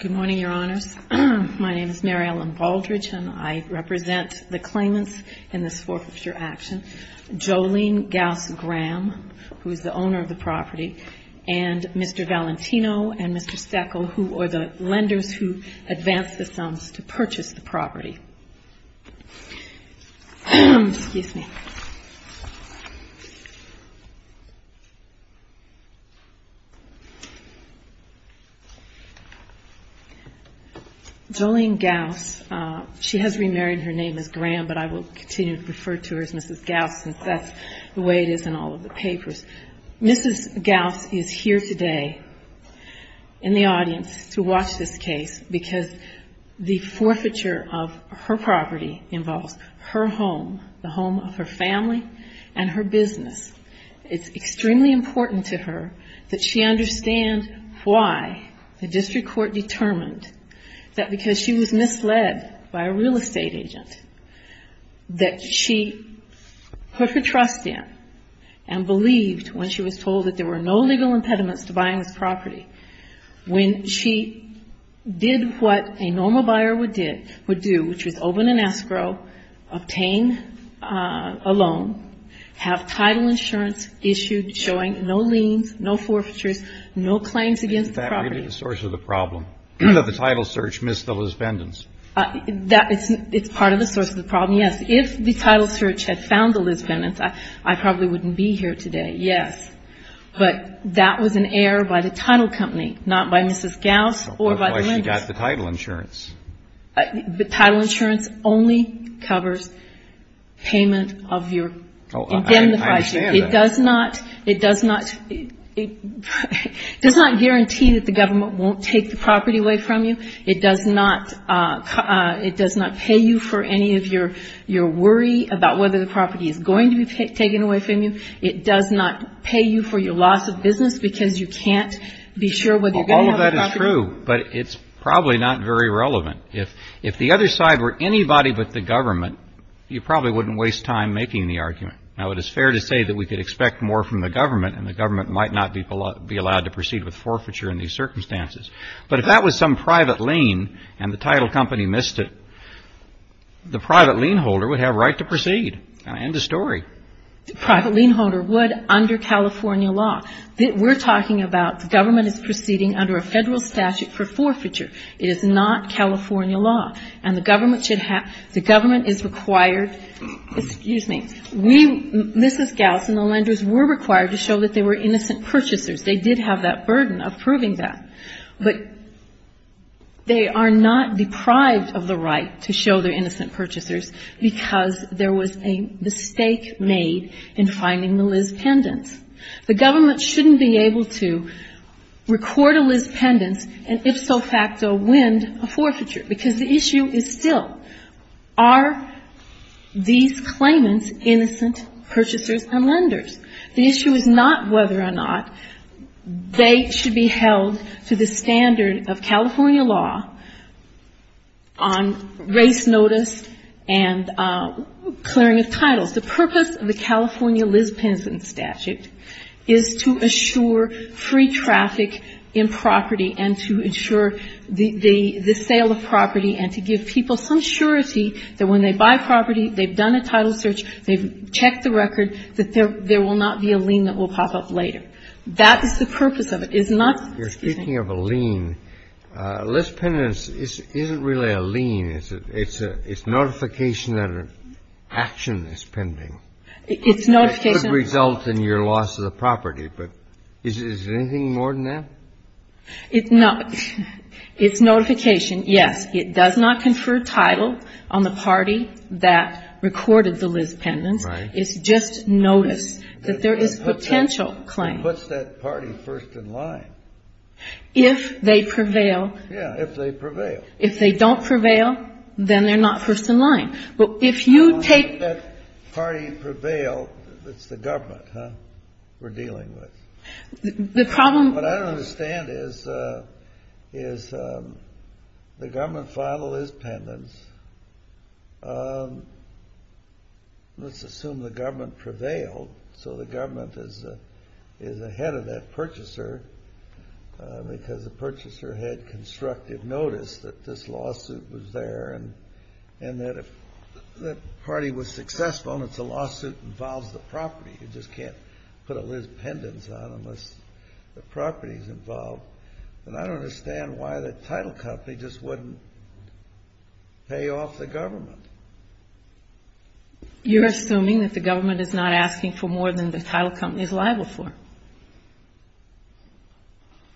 Good morning, Your Honors. My name is Mary Ellen Baldridge, and I represent the claimants in this forfeiture action, Jolene Gaus Graham, who is the owner of the property, and Mr. Valentino and Mr. Steckel, who are the lenders who advanced the sums to purchase the property. Jolene Gaus, she has remarried. Her name is Graham, but I will continue to refer to her as Mrs. Gaus, since that's the way it is in all of the papers. Mrs. Gaus is here today in the audience to watch this case because the forfeiture of her property involves her home, the home of her family and her business. It's extremely important to her that she understand why the district court determined that because she was misled by a real estate agent that she put her trust in and believed when she was told that there were no legal impediments to buying this property. When she did what a normal buyer would do, which was open an escrow, obtain a loan, have title insurance issued showing no liens, no forfeitures, no claims against the property. It's part of the source of the problem, yes. If the title search had found the Lisbondons, I probably wouldn't be here today, yes. But that was an error by the title company, not by Mrs. Gaus or by the lenders. It does not guarantee that the government won't take the property away from you. It does not pay you for any of your worry about whether the property is going to be taken away from you. It does not pay you for your loss of business because you can't be sure whether you're going to have the property. It's not true, but it's probably not very relevant. If the other side were anybody but the government, you probably wouldn't waste time making the argument. Now, it is fair to say that we could expect more from the government, and the government might not be allowed to proceed with forfeiture in these circumstances. But if that was some private lien and the title company missed it, the private lien holder would have a right to proceed. End of story. But they are not deprived of the right to show their innocent purchasers because there was a mistake made by the government. And the government should have the right to show their innocent purchasers. The issue is not whether or not they should be held to the standard of California law on race notice and clearing of titles. The purpose of the California law is to make sure that the claimants are innocent purchasers and lenders. The purpose of the California Liz Pendent statute is to assure free traffic in property and to ensure the sale of property and to give people some surety that when they buy property, they've done a title search, they've checked the record, that there will not be a lien that will pop up later. That is the purpose of it. If you're speaking of a lien, Liz Pendent's isn't really a lien. It's notification that an action is pending. It could result in your loss of the property. But is there anything more than that? It's not. It's notification, yes. It does not confer title on the party that recorded the Liz Pendent's. Right. It's just notice that there is potential claim. It puts that party first in line. If they prevail. Yeah, if they prevail. If they don't prevail, then they're not first in line. But if you take... If that party prevailed, it's the government we're dealing with. The problem... What I understand is the government filed a Liz Pendent's. Let's assume the government prevailed. So the government is ahead of that purchaser because the purchaser had constructive notice that this lawsuit was there. And that if the party was successful and it's a lawsuit that involves the property, you just can't put a Liz Pendent's on unless the property is involved. And I don't understand why the title company just wouldn't pay off the government. You're assuming that the government is not asking for more than the title company is liable for.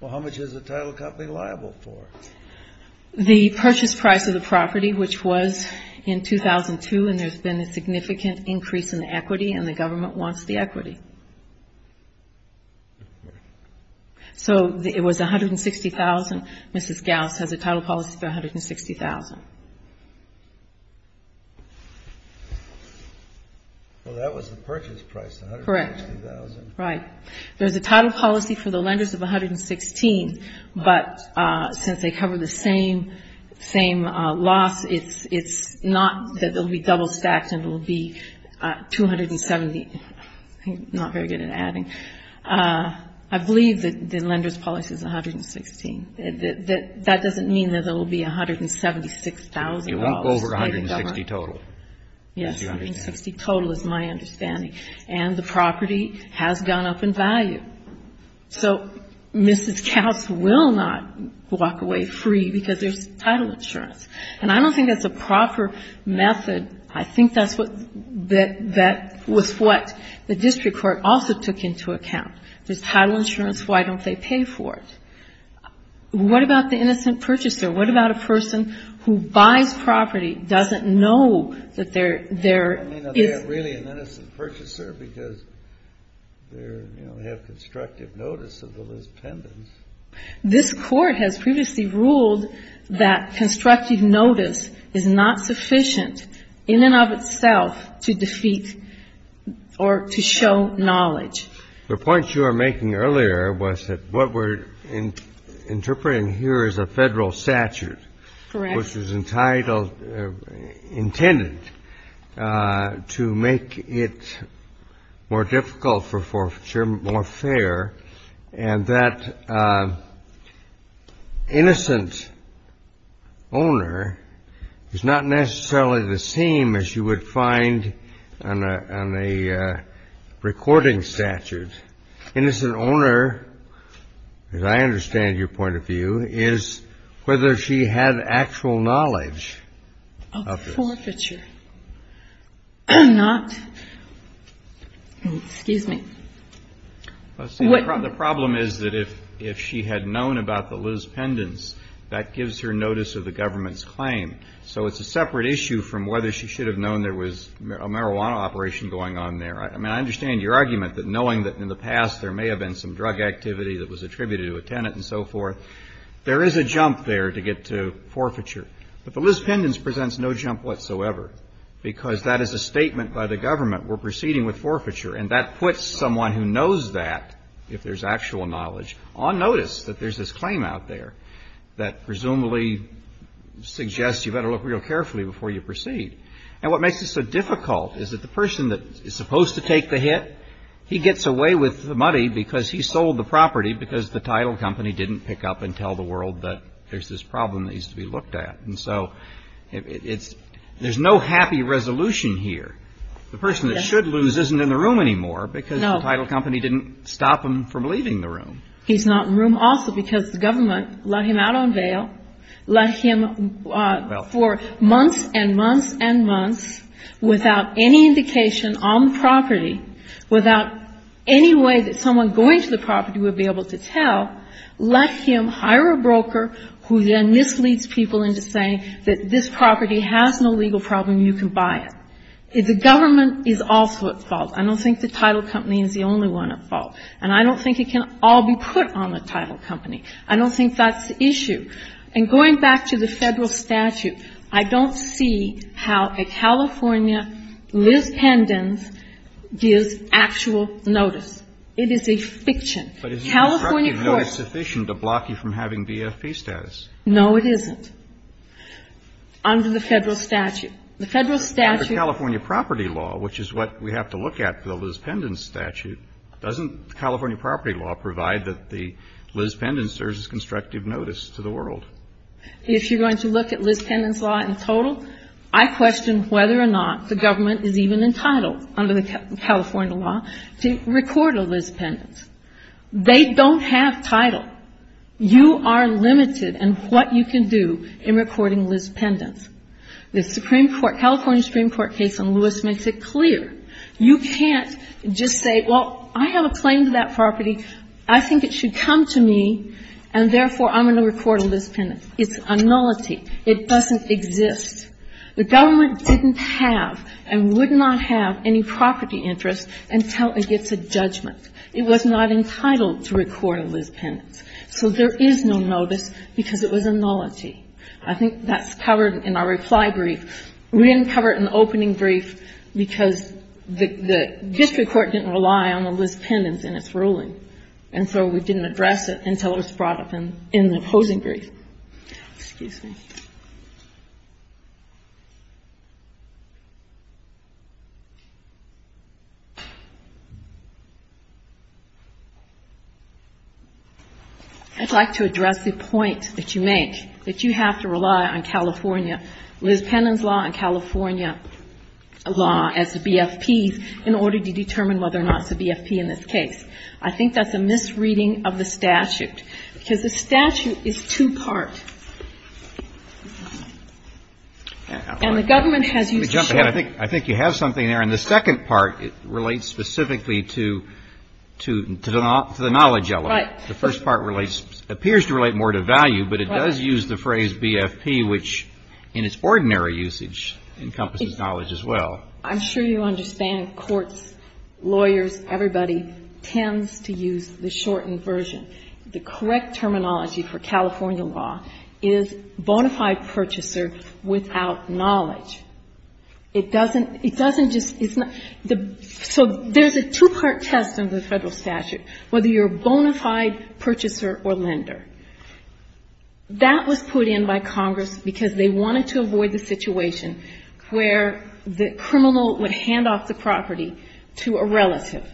Well, how much is the title company liable for? The purchase price of the property, which was in 2002, and there's been a significant increase in the equity, and the government wants the equity. So it was $160,000. Mrs. Gauss has a title policy for $160,000. Well, that was the purchase price, $160,000. Correct. Right. There's a title policy for the lenders of $116,000. But since they cover the same loss, it's not that it will be double stacked and it will be $270,000. I'm not very good at adding. I believe that the lender's policy is $116,000. That doesn't mean that there will be $176,000. It won't go over $160,000 total. Yes, $160,000 total is my understanding. And the property has gone up in value. So Mrs. Gauss will not walk away free because there's title insurance. And I don't think that's a proper method. I think that's what the district court also took into account. There's title insurance. Why don't they pay for it? What about the innocent purchaser? What about a person who buys property, doesn't know that there is an innocent purchaser? Because they're, you know, have constructive notice of the list pendants. This Court has previously ruled that constructive notice is not sufficient in and of itself to defeat or to show knowledge. The point you were making earlier was that what we're interpreting here is a Federal statute. Correct. Which is entitled, intended to make it more difficult for forfeiture, more fair, and that innocent owner is not necessarily the same as you would find on a recording statute. So the question is, is that innocent owner, as I understand your point of view, is whether she had actual knowledge of this. Of forfeiture. Not, excuse me. The problem is that if she had known about the list pendants, that gives her notice of the government's claim. So it's a separate issue from whether she should have known there was a marijuana operation going on there. I mean, I understand your argument that knowing that in the past there may have been some drug activity that was attributed to a tenant and so forth, there is a jump there to get to forfeiture. But the list pendants presents no jump whatsoever, because that is a statement by the government. We're proceeding with forfeiture. And that puts someone who knows that, if there's actual knowledge, on notice that there's this claim out there that presumably suggests you better look real carefully before you proceed. And what makes it so difficult is that the person that is supposed to take the hit, he gets away with the money because he sold the property because the title company didn't pick up and tell the world that there's this problem that needs to be looked at. And so it's there's no happy resolution here. The person that should lose isn't in the room anymore because the title company didn't stop them from leaving the room. He's not in the room also because the government let him out on bail, let him for months and months and months without any indication on the property, without any way that someone going to the property would be able to tell, let him hire a broker who then misleads people into saying that this property has no legal problem, you can buy it. The government is also at fault. I don't think the title company is the only one at fault. And I don't think it can all be put on the title company. I don't think that's the issue. And going back to the Federal statute, I don't see how a California, Liz Pendens, gives actual notice. It is a fiction. California courts don't. Kennedy. But is it sufficient to block you from having BFP status? No, it isn't. Under the Federal statute. The Federal statute. Under the California property law, which is what we have to look at for the Liz Pendens statute, doesn't California property law provide that the Liz Pendens serves as constructive notice to the world? If you're going to look at Liz Pendens' law in total, I question whether or not the government is even entitled under the California law to record a Liz Pendens. They don't have title. You are limited in what you can do in recording Liz Pendens. The Supreme Court, California Supreme Court case on Lewis makes it clear. You can't just say, well, I have a claim to that property. I think it should come to me, and therefore I'm going to record a Liz Pendens. It's a nullity. It doesn't exist. The government didn't have and would not have any property interest until it gets a judgment. It was not entitled to record a Liz Pendens. So there is no notice because it was a nullity. I think that's covered in our reply brief. We didn't cover it in the opening brief because the district court didn't rely on the Liz Pendens in its ruling. And so we didn't address it until it was brought up in the opposing brief. Excuse me. I'd like to address the point that you make, that you have to rely on California, Liz Pendens law and California law as the BFPs in order to determine whether or not it's a BFP in this case. I think that's a misreading of the statute because the statute is two-part. And the government has used the term. I think you have something there. And the second part relates specifically to the knowledge element. Right. The first part relates, appears to relate more to value, but it does use the phrase BFP, which in its ordinary usage encompasses knowledge as well. I'm sure you understand courts, lawyers, everybody tends to use the shortened version. The correct terminology for California law is bona fide purchaser without knowledge. It doesn't, it doesn't just, so there's a two-part test in the Federal statute, whether you're a bona fide purchaser or lender. That was put in by Congress because they wanted to avoid the situation where the criminal would hand off the property to a relative.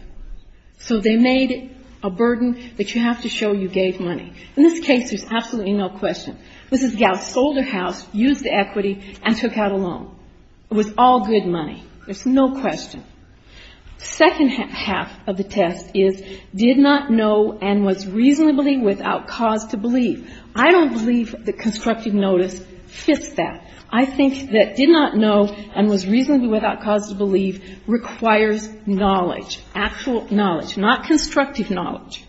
So they made a burden that you have to show you gave money. In this case, there's absolutely no question. Mrs. Gauss sold her house, used the equity, and took out a loan. It was all good money. There's no question. The second half of the test is did not know and was reasonably without cause to believe. I don't believe the constructive notice fits that. I think that did not know and was reasonably without cause to believe requires knowledge, actual knowledge, not constructive knowledge.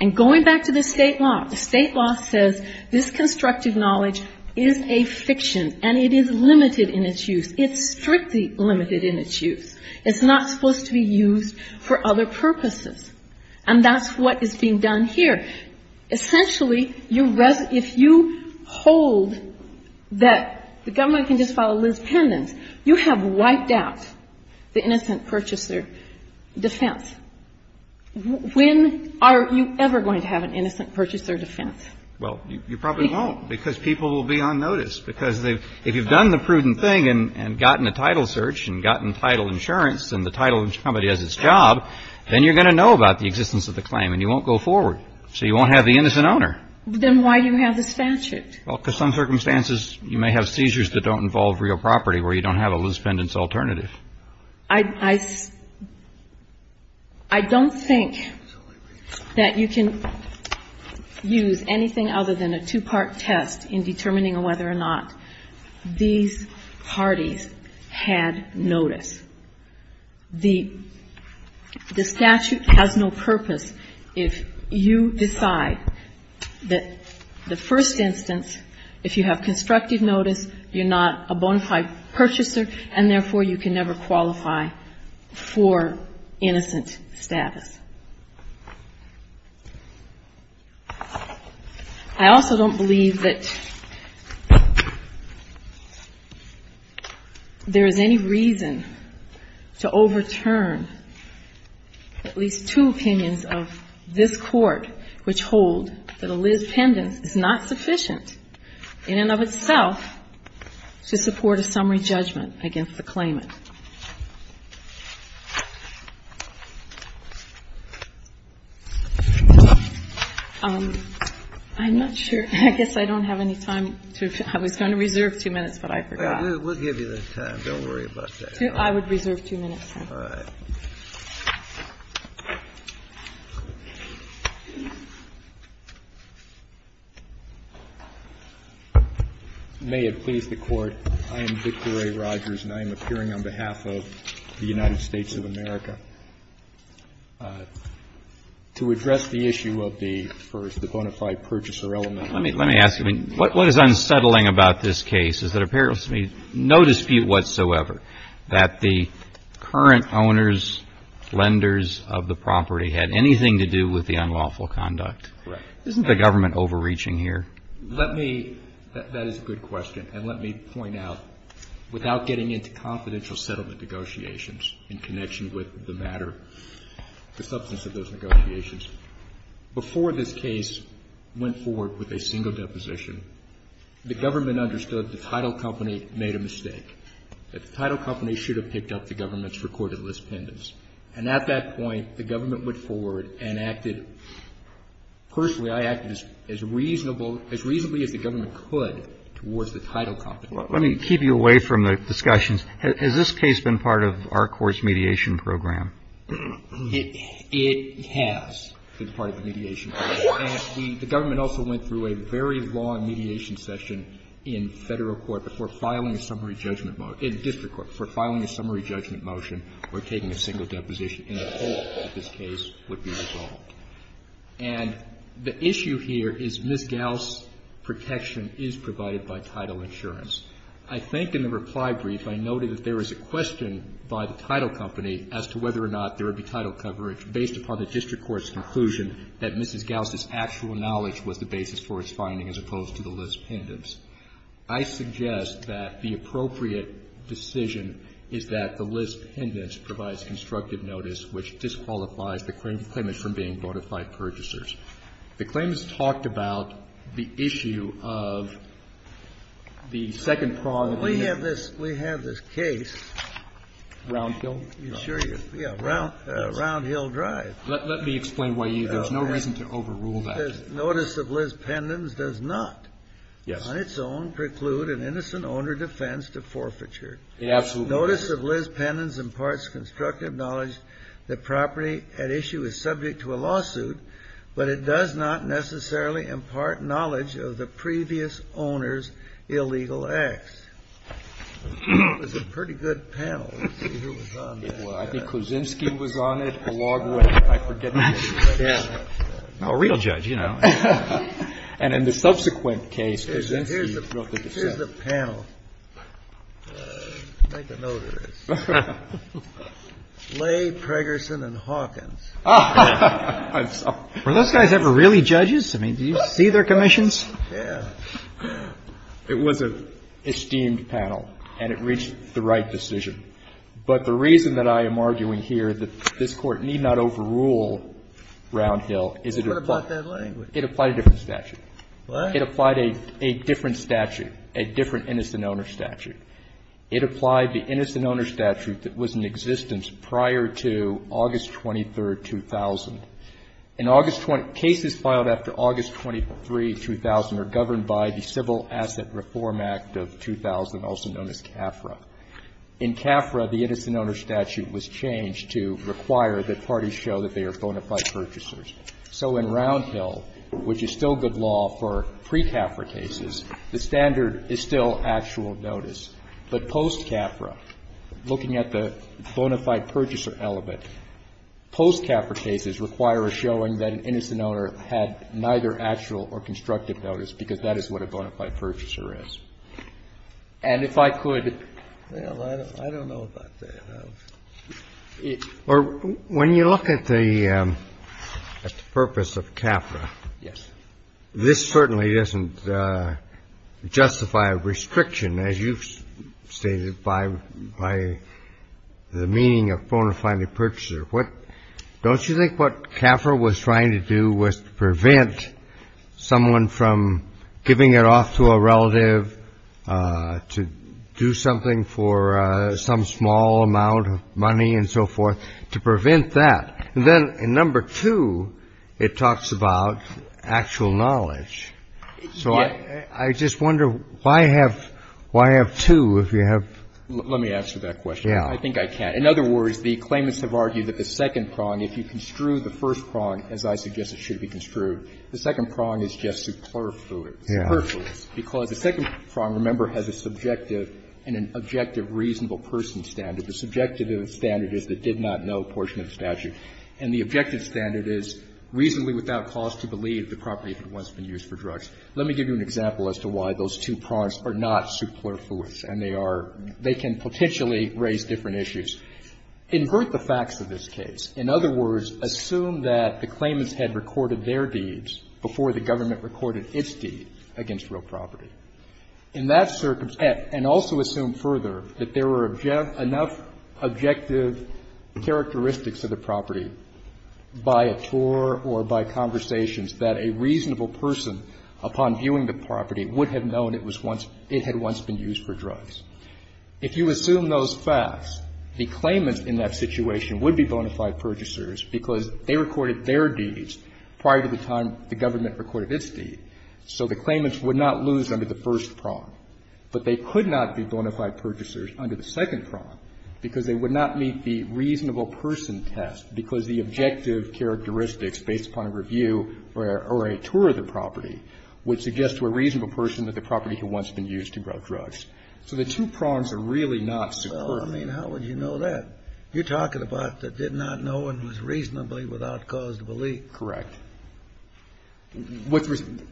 And going back to the state law, the state law says this constructive knowledge is a fiction, and it is limited in its use. It's strictly limited in its use. It's not supposed to be used for other purposes. And that's what is being done here. Essentially, if you hold that the government can just file a list of pendants, you have wiped out the innocent purchaser defense. When are you ever going to have an innocent purchaser defense? Well, you probably won't because people will be on notice. Because if you've done the prudent thing and gotten a title search and gotten title insurance and the title of somebody has his job, then you're going to know about the existence of the claim, and you won't go forward. So you won't have the innocent owner. Then why do you have the statute? Well, because some circumstances you may have seizures that don't involve real property where you don't have a list of pendants alternative. I don't think that you can use anything other than a two-part test in determining whether or not these parties had notice. The statute has no purpose if you decide that the first instance, if you have constructive notice, you're not a bona fide purchaser, and therefore you can never qualify for innocent status. I also don't believe that there is any reason to overturn at least two opinions of this court which hold that a list of pendants is not sufficient in and of itself to support a summary judgment against the claimant. I'm not sure. I guess I don't have any time. I was going to reserve two minutes, but I forgot. We'll give you the time. Don't worry about that. I would reserve two minutes. All right. May it please the Court. I am Victor A. Rogers, and I am appearing on behalf of the United States of America to address the issue of the first, the bona fide purchaser element. Let me ask you, what is unsettling about this case is that there appears to be no dispute whatsoever that the current owners, lenders of the property had anything to do with the unlawful conduct. Correct. Isn't the government overreaching here? Let me, that is a good question, and let me point out, without getting into confidential settlement negotiations in connection with the matter, the substance of those negotiations, before this case went forward with a single deposition, the government understood the title company made a mistake, that the title company should have picked up the government's recorded list pendants. And at that point, the government went forward and acted, personally, I acted as reasonable, as reasonably as the government could towards the title company. Let me keep you away from the discussions. Has this case been part of our Court's mediation program? It has been part of the mediation program, and the government also went through a very long mediation session in Federal court before filing a summary judgment motion, in district court, before filing a summary judgment motion or taking a single deposition, and the whole of this case would be resolved. And the issue here is Ms. Gauss' protection is provided by title insurance. I think in the reply brief I noted that there was a question by the title company as to whether or not there would be title coverage based upon the district court's conclusion that Mrs. Gauss' actual knowledge was the basis for its finding as opposed to the list pendants. I suggest that the appropriate decision is that the list pendants provides constructive notice which disqualifies the claimant from being bought by purchasers. The claimants talked about the issue of the second prong. We have this case. Round Hill? Yeah. Round Hill Drive. Let me explain why there's no reason to overrule that. Notice of list pendants does not on its own preclude an innocent owner defense to forfeiture. Absolutely. Notice of list pendants imparts constructive knowledge that property at issue is subject to a lawsuit, but it does not necessarily impart knowledge of the previous owner's illegal acts. It's a pretty good panel. I think Kuczynski was on it a long way. I forget. A real judge, you know. And in the subsequent case, Kuczynski broke it. Here's the panel. Make a note of this. Lay, Preggerson, and Hawkins. Were those guys ever really judges? I mean, did you see their commissions? Yeah. It was an esteemed panel, and it reached the right decision. But the reason that I am arguing here that this Court need not overrule Round Hill is it applied. What about that language? It applied a different statute. What? It applied a different statute, a different innocent owner statute. It applied the innocent owner statute that was in existence prior to August 23, 2000. In August 20 — cases filed after August 23, 2000 are governed by the Civil Asset Reform Act of 2000, also known as CAFRA. In CAFRA, the innocent owner statute was changed to require that parties show that they are bona fide purchasers. So in Round Hill, which is still good law for pre-CAFRA cases, the standard is still actual notice. But post-CAFRA, looking at the bona fide purchaser element, post-CAFRA cases require a showing that an innocent owner had neither actual or constructive notice because that is what a bona fide purchaser is. And if I could — Well, I don't know about that. Well, when you look at the purpose of CAFRA, this certainly doesn't justify a restriction, as you've stated, by the meaning of bona fide purchaser. Don't you think what CAFRA was trying to do was to prevent someone from giving it off to a relative to do something for some small amount of money and so forth, to prevent that? And then in number two, it talks about actual knowledge. So I just wonder why have two if you have — Let me answer that question. I think I can. In other words, the claimants have argued that the second prong, if you construe the first prong, as I suggest it should be construed, the second prong is just superfluous. Because the second prong, remember, has a subjective and an objective reasonable person standard. The subjective standard is the did-not-know portion of the statute. And the objective standard is reasonably without cause to believe the property had once been used for drugs. Let me give you an example as to why those two prongs are not superfluous. And they are — they can potentially raise different issues. Invert the facts of this case. In other words, assume that the claimants had recorded their deeds before the government recorded its deeds against real property. In that circumstance, and also assume further that there were enough objective characteristics of the property by a tour or by conversations that a reasonable person, upon viewing the property, would have known it was once — it had once been used for drugs. If you assume those facts, the claimants in that situation would be bonafide purchasers because they recorded their deeds prior to the time the government recorded its deed. So the claimants would not lose under the first prong. But they could not be bonafide purchasers under the second prong because they would not meet the reasonable person test because the objective characteristics based upon a review or a tour of the property would suggest to a reasonable person that the property had once been used to grow drugs. So the two prongs are really not superfluous. Well, I mean, how would you know that? You're talking about that did not know and was reasonably without cause to believe. Correct.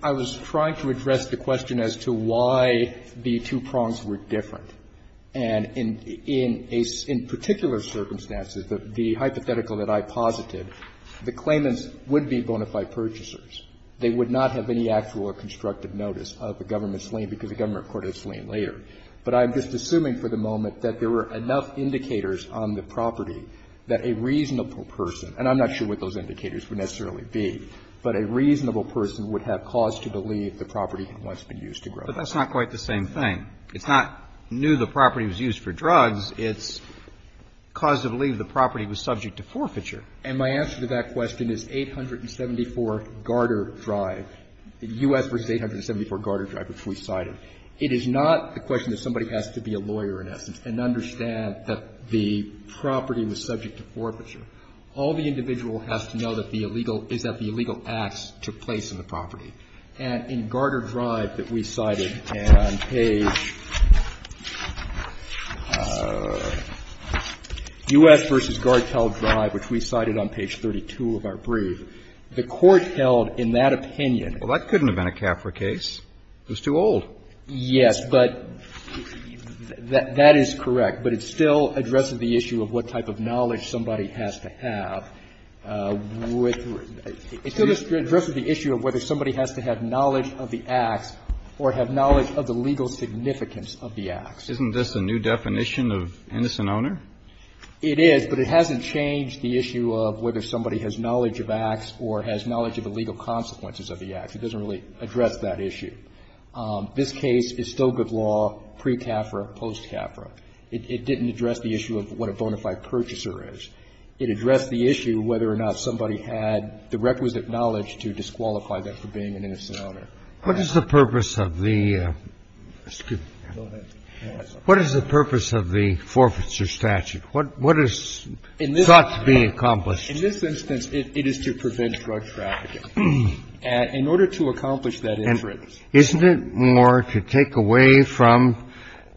I was trying to address the question as to why the two prongs were different. And in particular circumstances, the hypothetical that I posited, the claimants would be bonafide purchasers. They would not have any actual or constructive notice of a government slain because the government recorded a slain later. But I'm just assuming for the moment that there were enough indicators on the property that a reasonable person, and I'm not sure what those indicators would necessarily be, but a reasonable person would have cause to believe the property had once been used to grow drugs. But that's not quite the same thing. It's not knew the property was used for drugs. It's cause to believe the property was subject to forfeiture. And my answer to that question is 874 Garter Drive, the U.S. v. 874 Garter Drive, which we cited. It is not the question that somebody has to be a lawyer in essence and understand that the property was subject to forfeiture. All the individual has to know is that the illegal acts took place on the property. And in Garter Drive that we cited on page U.S. v. Gartel Drive, which we cited on page 32 of our brief, the Court held in that opinion. Well, that couldn't have been a CAFRA case. It was too old. Yes, but that is correct. But it still addresses the issue of what type of knowledge somebody has to have. It still addresses the issue of whether somebody has to have knowledge of the acts or have knowledge of the legal significance of the acts. Isn't this a new definition of innocent owner? It is, but it hasn't changed the issue of whether somebody has knowledge of acts or has knowledge of the legal consequences of the acts. It doesn't really address that issue. This case is still good law pre-CAFRA, post-CAFRA. It didn't address the issue of what a bona fide purchaser is. It addressed the issue whether or not somebody had the requisite knowledge to disqualify them for being an innocent owner. What is the purpose of the — excuse me. Go ahead. What is the purpose of the forfeiture statute? What is sought to be accomplished? In this instance, it is to prevent drug trafficking. In order to accomplish that inference. Isn't it more to take away from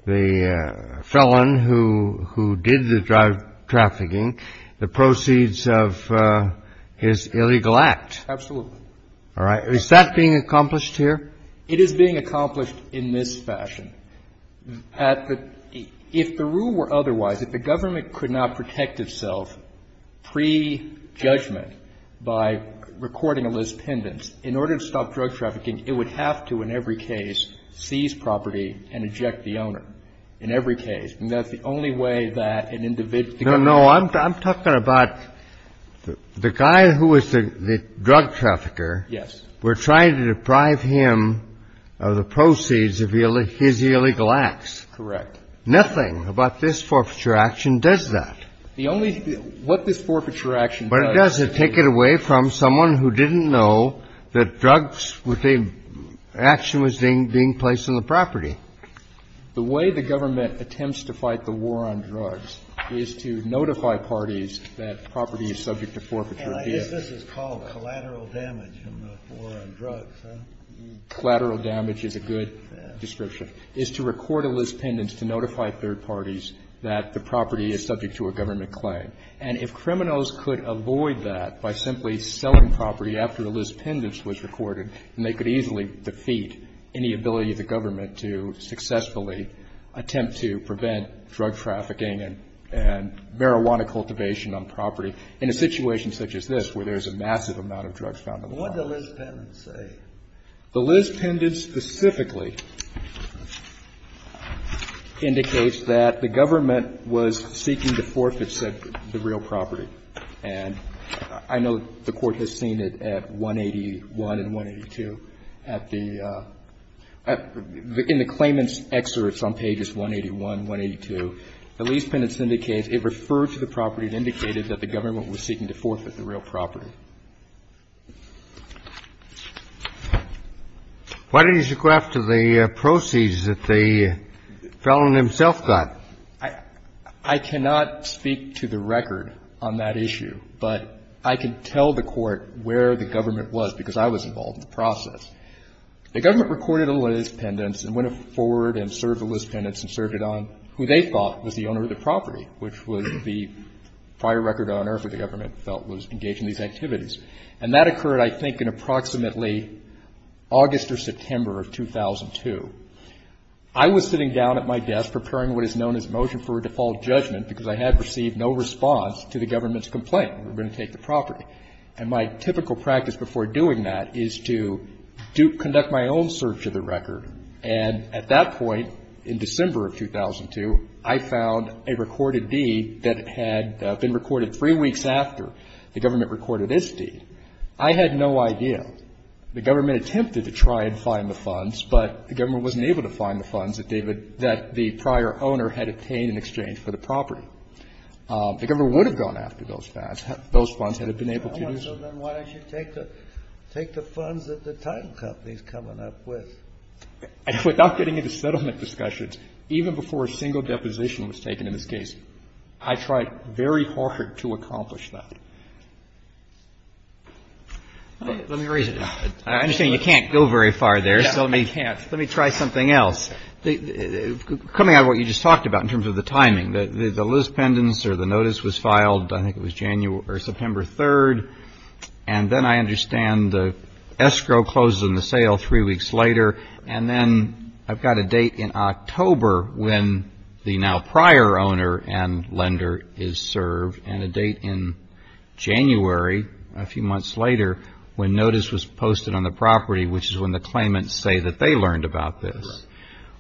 the felon who did the drug trafficking the proceeds of his illegal act? Absolutely. All right. Is that being accomplished here? It is being accomplished in this fashion. If the rule were otherwise, if the government could not protect itself pre-judgment by recording a list pendants, in order to stop drug trafficking, it would have to, in every case, seize property and eject the owner. In every case. I mean, that's the only way that an individual can go. No, no. I'm talking about the guy who was the drug trafficker. Yes. We're trying to deprive him of the proceeds of his illegal acts. Correct. Nothing about this forfeiture action does that. The only — what this forfeiture action does — But it does. It takes it away from someone who didn't know that drugs were being — action was being placed on the property. The way the government attempts to fight the war on drugs is to notify parties that property is subject to forfeiture. And I guess this is called collateral damage in the war on drugs, huh? Collateral damage is a good description. It's to record a list pendants to notify third parties that the property is subject to a government claim. And if criminals could avoid that by simply selling property after the list pendants was recorded, then they could easily defeat any ability of the government to successfully attempt to prevent drug trafficking and marijuana cultivation on property in a situation such as this, where there's a massive amount of drugs found on the law. What did the list pendants say? The list pendants specifically indicates that the government was seeking to forfeit the real property. And I know the Court has seen it at 181 and 182. In the claimant's excerpts on pages 181, 182, the list pendants indicates it referred to the property and indicated that the government was seeking to forfeit the real property. Why didn't you go after the proceeds that the felon himself got? I cannot speak to the record on that issue. But I can tell the Court where the government was because I was involved in the process. The government recorded a list pendants and went forward and served the list pendants and served it on who they thought was the owner of the property, which was the prior record owner for the government felt was engaged in these activities. And that occurred, I think, in approximately August or September of 2002. I was sitting down at my desk preparing what is known as motion for a default judgment because I had received no response to the government's complaint. We're going to take the property. And my typical practice before doing that is to conduct my own search of the record. And at that point in December of 2002, I found a recorded deed that had been recorded three weeks after the government recorded its deed. I had no idea. The government attempted to try and find the funds, but the government wasn't able to find the funds that the prior owner had obtained in exchange for the property. The government would have gone after those funds had it been able to do so. Kennedy, so then why don't you take the funds that the title company is coming up with? Without getting into settlement discussions, even before a single deposition was taken in this case, I tried very hard to accomplish that. Let me raise it. I understand you can't go very far there. Yeah, I can't. Let me try something else. Coming out of what you just talked about in terms of the timing, the list pendants or the notice was filed, I think it was September 3rd. And then I understand the escrow closes in the sale three weeks later. And then I've got a date in October when the now prior owner and lender is served and a date in January a few months later when notice was posted on the property, which is when the claimants say that they learned about this.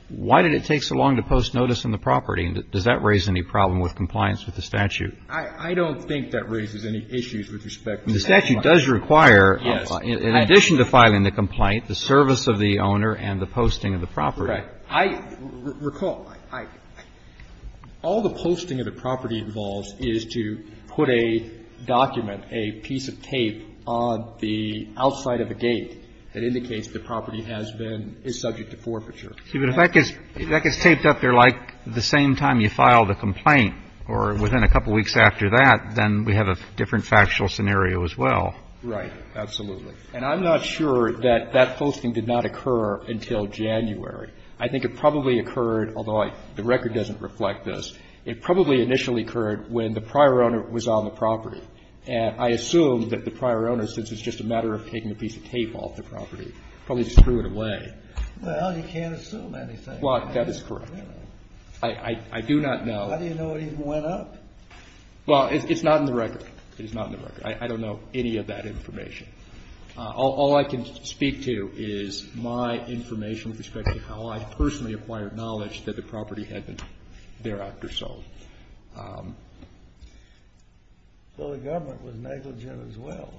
Why did it take so long to post notice on the property? Does that raise any problem with compliance with the statute? I don't think that raises any issues with respect to that. The statute does require, in addition to filing the complaint, the service of the owner and the posting of the property. Right. Recall, all the posting of the property involves is to put a document, a piece of tape on the outside of a gate that indicates the property has been, is subject to forfeiture. But if that gets taped up there like the same time you file the complaint or within a couple of weeks after that, then we have a different factual scenario as well. Right. Absolutely. And I'm not sure that that posting did not occur until January. I think it probably occurred, although the record doesn't reflect this, it probably initially occurred when the prior owner was on the property. And I assume that the prior owner, since it's just a matter of taking a piece of tape off the property, probably just threw it away. Well, you can't assume anything. Well, that is correct. I do not know. How do you know it even went up? Well, it's not in the record. It's not in the record. I don't know any of that information. All I can speak to is my information with respect to how I personally acquired knowledge that the property had been thereafter sold. So the government was negligent as well.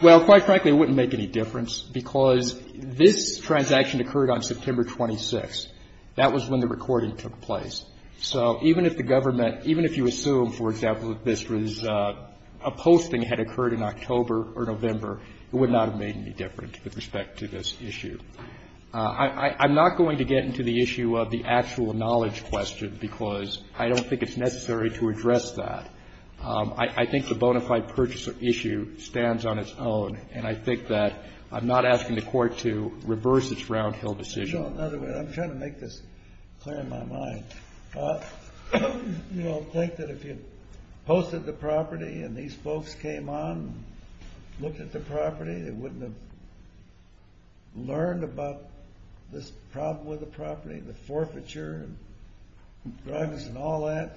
Well, quite frankly, it wouldn't make any difference, because this transaction occurred on September 26th. That was when the recording took place. So even if the government, even if you assume, for example, that this was a posting that had occurred in October or November, it would not have made any difference with respect to this issue. I'm not going to get into the issue of the actual knowledge question, because I don't think it's necessary to address that. I think the bona fide purchase issue stands on its own, and I think that I'm not asking the court to reverse its round-hill decision. I'm trying to make this clear in my mind. You don't think that if you posted the property and these folks came on and looked at the property, they wouldn't have learned about this problem with the property, the forfeiture and drugs and all that?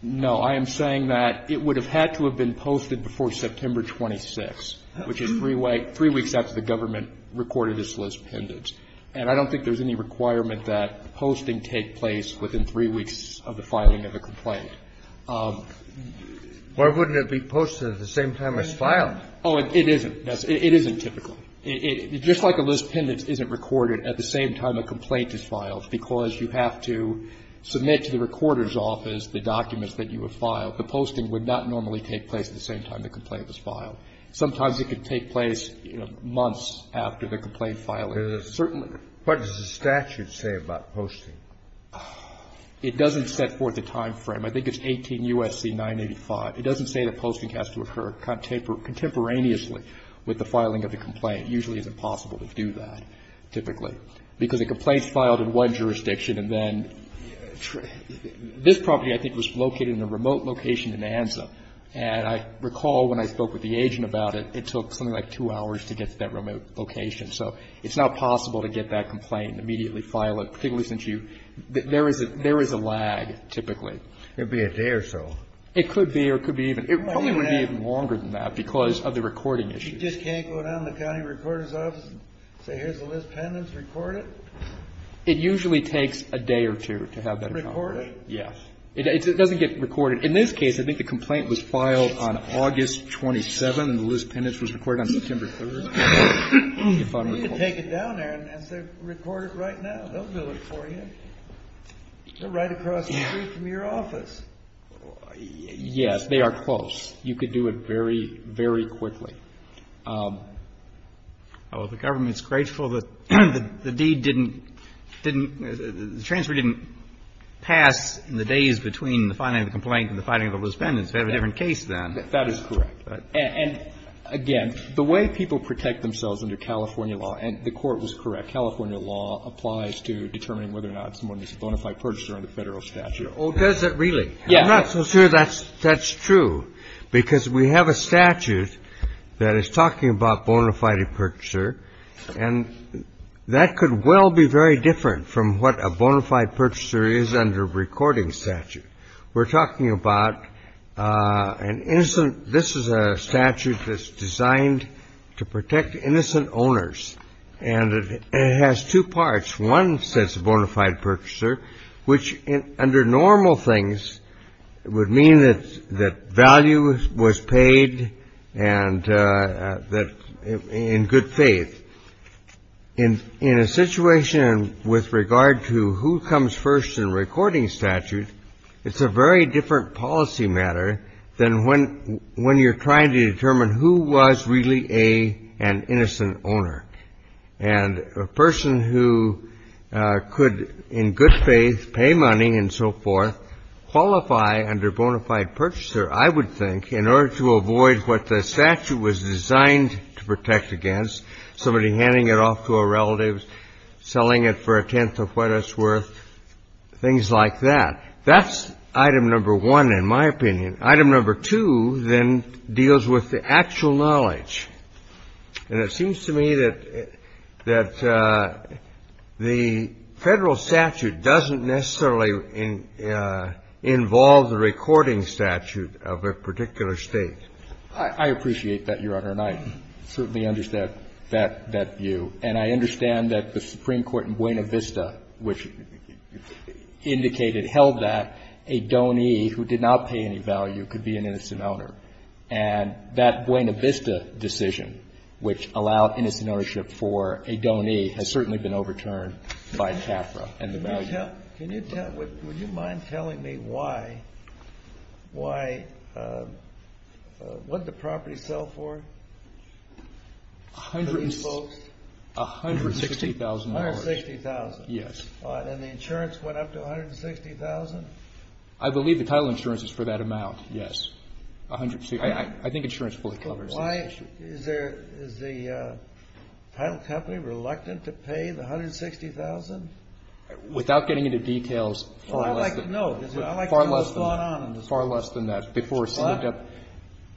No. I am saying that it would have had to have been posted before September 26th, which is three weeks after the government recorded its lis pendens. And I don't think there's any requirement that posting take place within three weeks of the filing of a complaint. Why wouldn't it be posted at the same time as filed? Oh, it isn't. It isn't typically. Just like a lis pendens isn't recorded at the same time a complaint is filed, because you have to submit to the recorder's office the documents that you have filed. The posting would not normally take place at the same time the complaint was filed. Sometimes it could take place, you know, months after the complaint filing. Certainly. What does the statute say about posting? It doesn't set forth a time frame. I think it's 18 U.S.C. 985. It doesn't say that posting has to occur contemporaneously with the filing of the complaint. It usually isn't possible to do that typically. Because a complaint's filed in one jurisdiction, and then this property I think was located in a remote location in Anza. And I recall when I spoke with the agent about it, it took something like two hours to get to that remote location. So it's not possible to get that complaint and immediately file it, particularly since you – there is a lag typically. It would be a day or so. It could be, or it could be even – it probably would be even longer than that because of the recording issues. You just can't go down to the county recorder's office and say, here's the list pendants, record it? It usually takes a day or two to have that acknowledged. Record it? Yes. It doesn't get recorded. In this case, I think the complaint was filed on August 27th, and the list pendants was recorded on September 3rd. You can take it down there and say, record it right now. They'll do it for you. They're right across the street from your office. Yes. They are close. You could do it very, very quickly. Well, the government's grateful that the deed didn't – didn't – the transfer didn't pass in the days between the filing of the complaint and the filing of the list pendants. They have a different case then. That is correct. And, again, the way people protect themselves under California law – and the Court was correct. California law applies to determining whether or not someone is a bona fide purchaser under Federal statute. Oh, does it really? Yes. I'm not so sure that's true. Because we have a statute that is talking about bona fide purchaser, and that could well be very different from what a bona fide purchaser is under a recording statute. We're talking about an innocent – this is a statute that's designed to protect innocent owners, and it has two parts. One says bona fide purchaser, which under normal things would mean that value was paid and that – in good faith. In a situation with regard to who comes first in a recording statute, it's a very different policy matter than when you're trying to determine who was really an innocent owner. And a person who could, in good faith, pay money and so forth, qualify under bona fide purchaser, I would think, in order to avoid what the statute was designed to protect against, somebody handing it off to a relative, selling it for a tenth of what it's worth, things like that. That's item number one, in my opinion. Item number two, then, deals with the actual knowledge. And it seems to me that the Federal statute doesn't necessarily involve the recording statute of a particular State. I appreciate that, Your Honor, and I certainly understand that view. And I understand that the Supreme Court in Buena Vista, which indicated, held that a donee who did not pay any value could be an innocent owner. And that Buena Vista decision, which allowed innocent ownership for a donee, has certainly been overturned by CAFRA and the value. Can you tell – would you mind telling me why – why – what did the property sell for, for these folks? $160,000. $160,000. Yes. And the insurance went up to $160,000? I believe the title insurance is for that amount, yes. $160,000. I think insurance fully covers that issue. Why – is there – is the title company reluctant to pay the $160,000? Without getting into details, far less than that. Well, I'd like to know. I'd like to know what's going on in this case. Far less than that. Before seeing – What?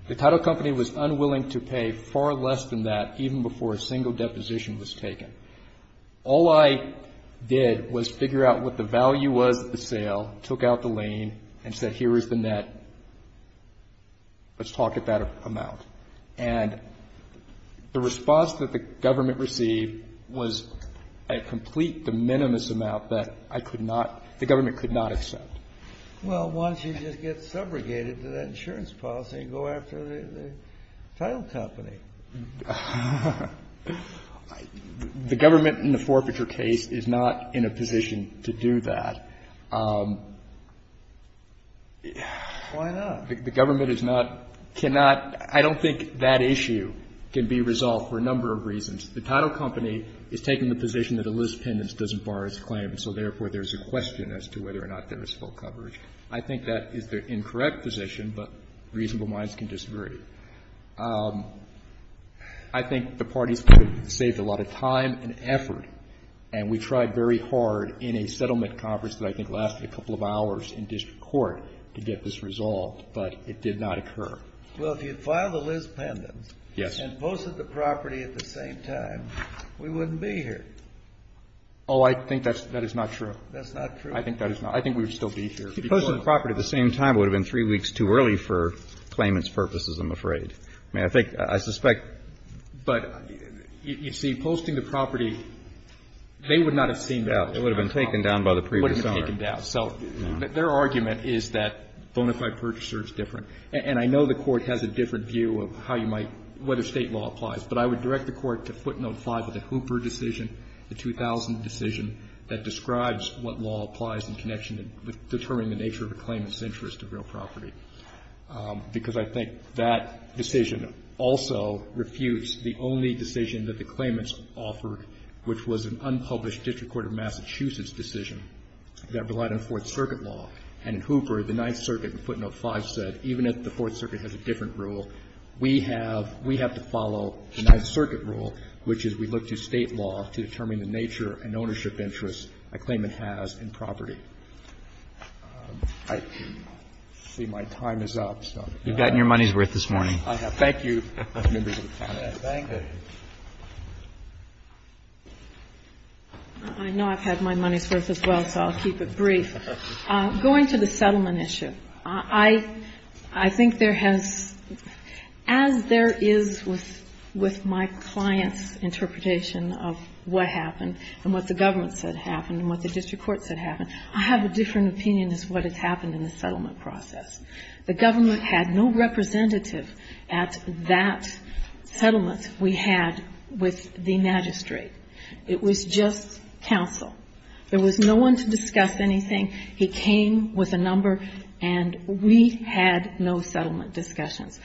The title company was unwilling to pay far less than that, even before a single deposition was taken. All I did was figure out what the value was at the sale, took out the lien, and said, here is the net, let's talk at that amount. And the response that the government received was a complete de minimis amount that I could not – the government could not accept. Well, why don't you just get subrogated to that insurance policy and go after the title company? The government in the forfeiture case is not in a position to do that. Why not? The government is not – cannot – I don't think that issue can be resolved for a number of reasons. The title company is taking the position that a list of pendants doesn't bar its claim, and so therefore there's a question as to whether or not there is full coverage. I think that is the incorrect position, but reasonable minds can disagree. I think the parties could have saved a lot of time and effort, and we tried very hard in a settlement conference that I think lasted a couple of hours in district court to get this resolved, but it did not occur. Well, if you had filed a list of pendants and posted the property at the same time, we wouldn't be here. Oh, I think that is not true. That's not true. I think that is not – I think we would still be here. If you posted the property at the same time, it would have been three weeks too early for claimants' purposes, I'm afraid. I mean, I think – I suspect – but, you see, posting the property, they would not have seen that. It would have been taken down by the previous owner. It would have been taken down. So their argument is that bona fide purchaser is different. And I know the Court has a different view of how you might – whether State law applies, but I would direct the Court to footnote 5 of the Hooper decision, the 2000 decision that describes what law applies in connection with determining the nature of a claimant's interest of real property, because I think that decision also refutes the only decision that the claimants offered, which was an unpublished district court of Massachusetts decision that relied on Fourth Circuit law. And in Hooper, the Ninth Circuit in footnote 5 said, even if the Fourth Circuit has a different rule, we have – we have to follow the Ninth Circuit rule, which is we look to State law to determine the nature and ownership interest a claimant has in property. I see my time is up, so. You've gotten your money's worth this morning. I have. Thank you, Mr. Chairman. Thank you. I know I've had my money's worth as well, so I'll keep it brief. Going to the settlement issue, I think there has – as there is with my client's interpretation of what happened and what the government said happened and what the district court said happened, I have a different opinion as to what has happened in the settlement process. The government had no representative at that settlement we had with the magistrate. It was just counsel. There was no one to discuss anything. He came with a number, and we had no settlement discussions.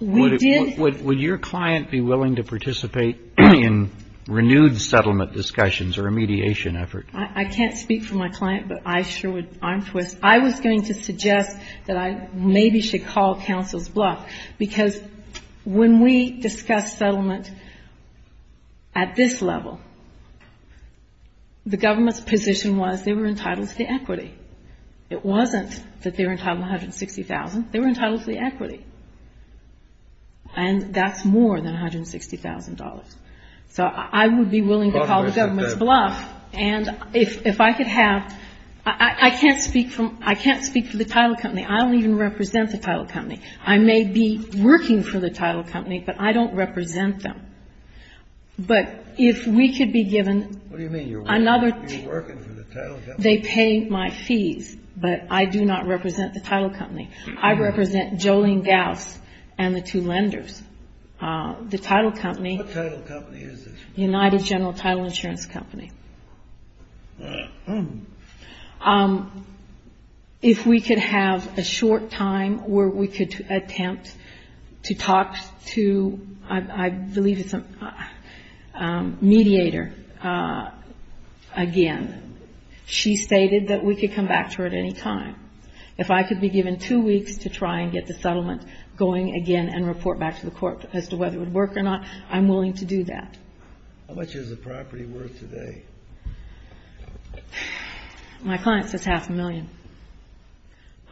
We did – Would your client be willing to participate in renewed settlement discussions or a mediation effort? I can't speak for my client, but I sure would – I'm for it. I was going to suggest that I maybe should call counsel's bluff because when we discussed settlement at this level, the government's position was they were entitled to the equity. It wasn't that they were entitled to $160,000. They were entitled to the equity, and that's more than $160,000. So I would be willing to call the government's bluff, and if I could have – I can't speak for the title company. I don't even represent the title company. I may be working for the title company, but I don't represent them. But if we could be given another – What do you mean? You're working for the title company? They pay my fees, but I do not represent the title company. I represent Jolene Gauss and the two lenders. The title company – What title company is this? United General Title Insurance Company. If we could have a short time where we could attempt to talk to, I believe it's a mediator again. She stated that we could come back to her at any time. If I could be given two weeks to try and get the settlement going again and report back to the court as to whether it would work or not, I'm willing to do that. How much is the property worth today? My client says half a million.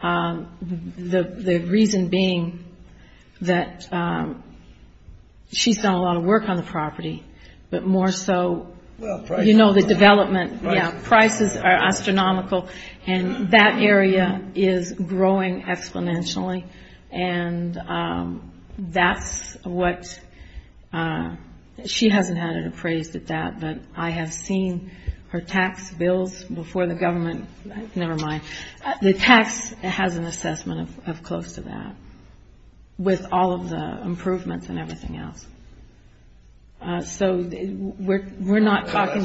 The reason being that she's done a lot of work on the property, but more so, you know, the development. Prices are astronomical, and that area is growing exponentially. And that's what – she hasn't had it appraised at that, but I have seen her tax bills before the government – never mind. The tax has an assessment of close to that with all of the improvements and everything else. So we're not talking –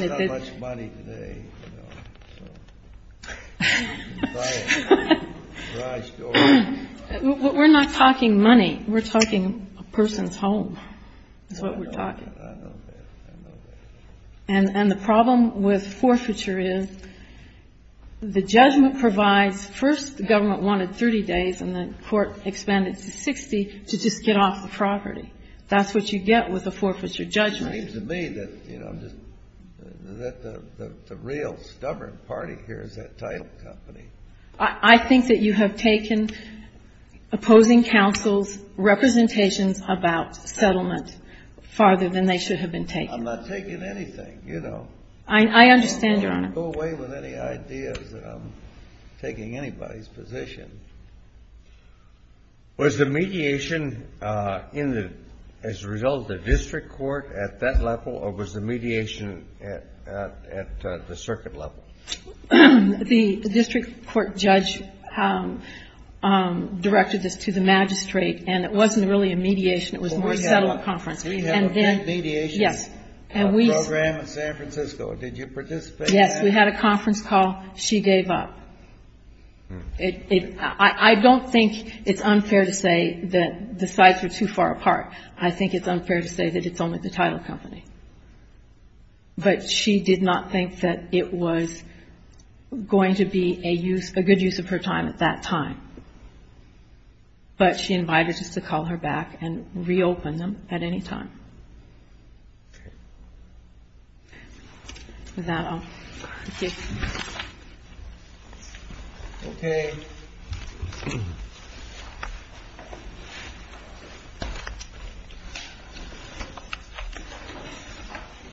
We're not talking money. We're talking a person's home is what we're talking. I know that. I know that. And the problem with forfeiture is the judgment provides – first, the government wanted 30 days, and the court expanded to 60 to just get off the property. That's what you get with a forfeiture judgment. It seems to me that the real stubborn party here is that title company. I think that you have taken opposing counsel's representations about settlement farther than they should have been taken. I'm not taking anything, you know. I understand, Your Honor. I won't go away with any ideas that I'm taking anybody's position. Was the mediation in the – as a result of the district court at that level, or was the mediation at the circuit level? The district court judge directed this to the magistrate, and it wasn't really a mediation. It was more a settlement conference. We had a mediation program in San Francisco. Did you participate in that? Yes. We had a conference call. She gave up. I don't think it's unfair to say that the sides were too far apart. I think it's unfair to say that it's only the title company. But she did not think that it was going to be a good use of her time at that time. But she invited us to call her back and reopen them at any time. Okay. Is that all? Thank you. Okay.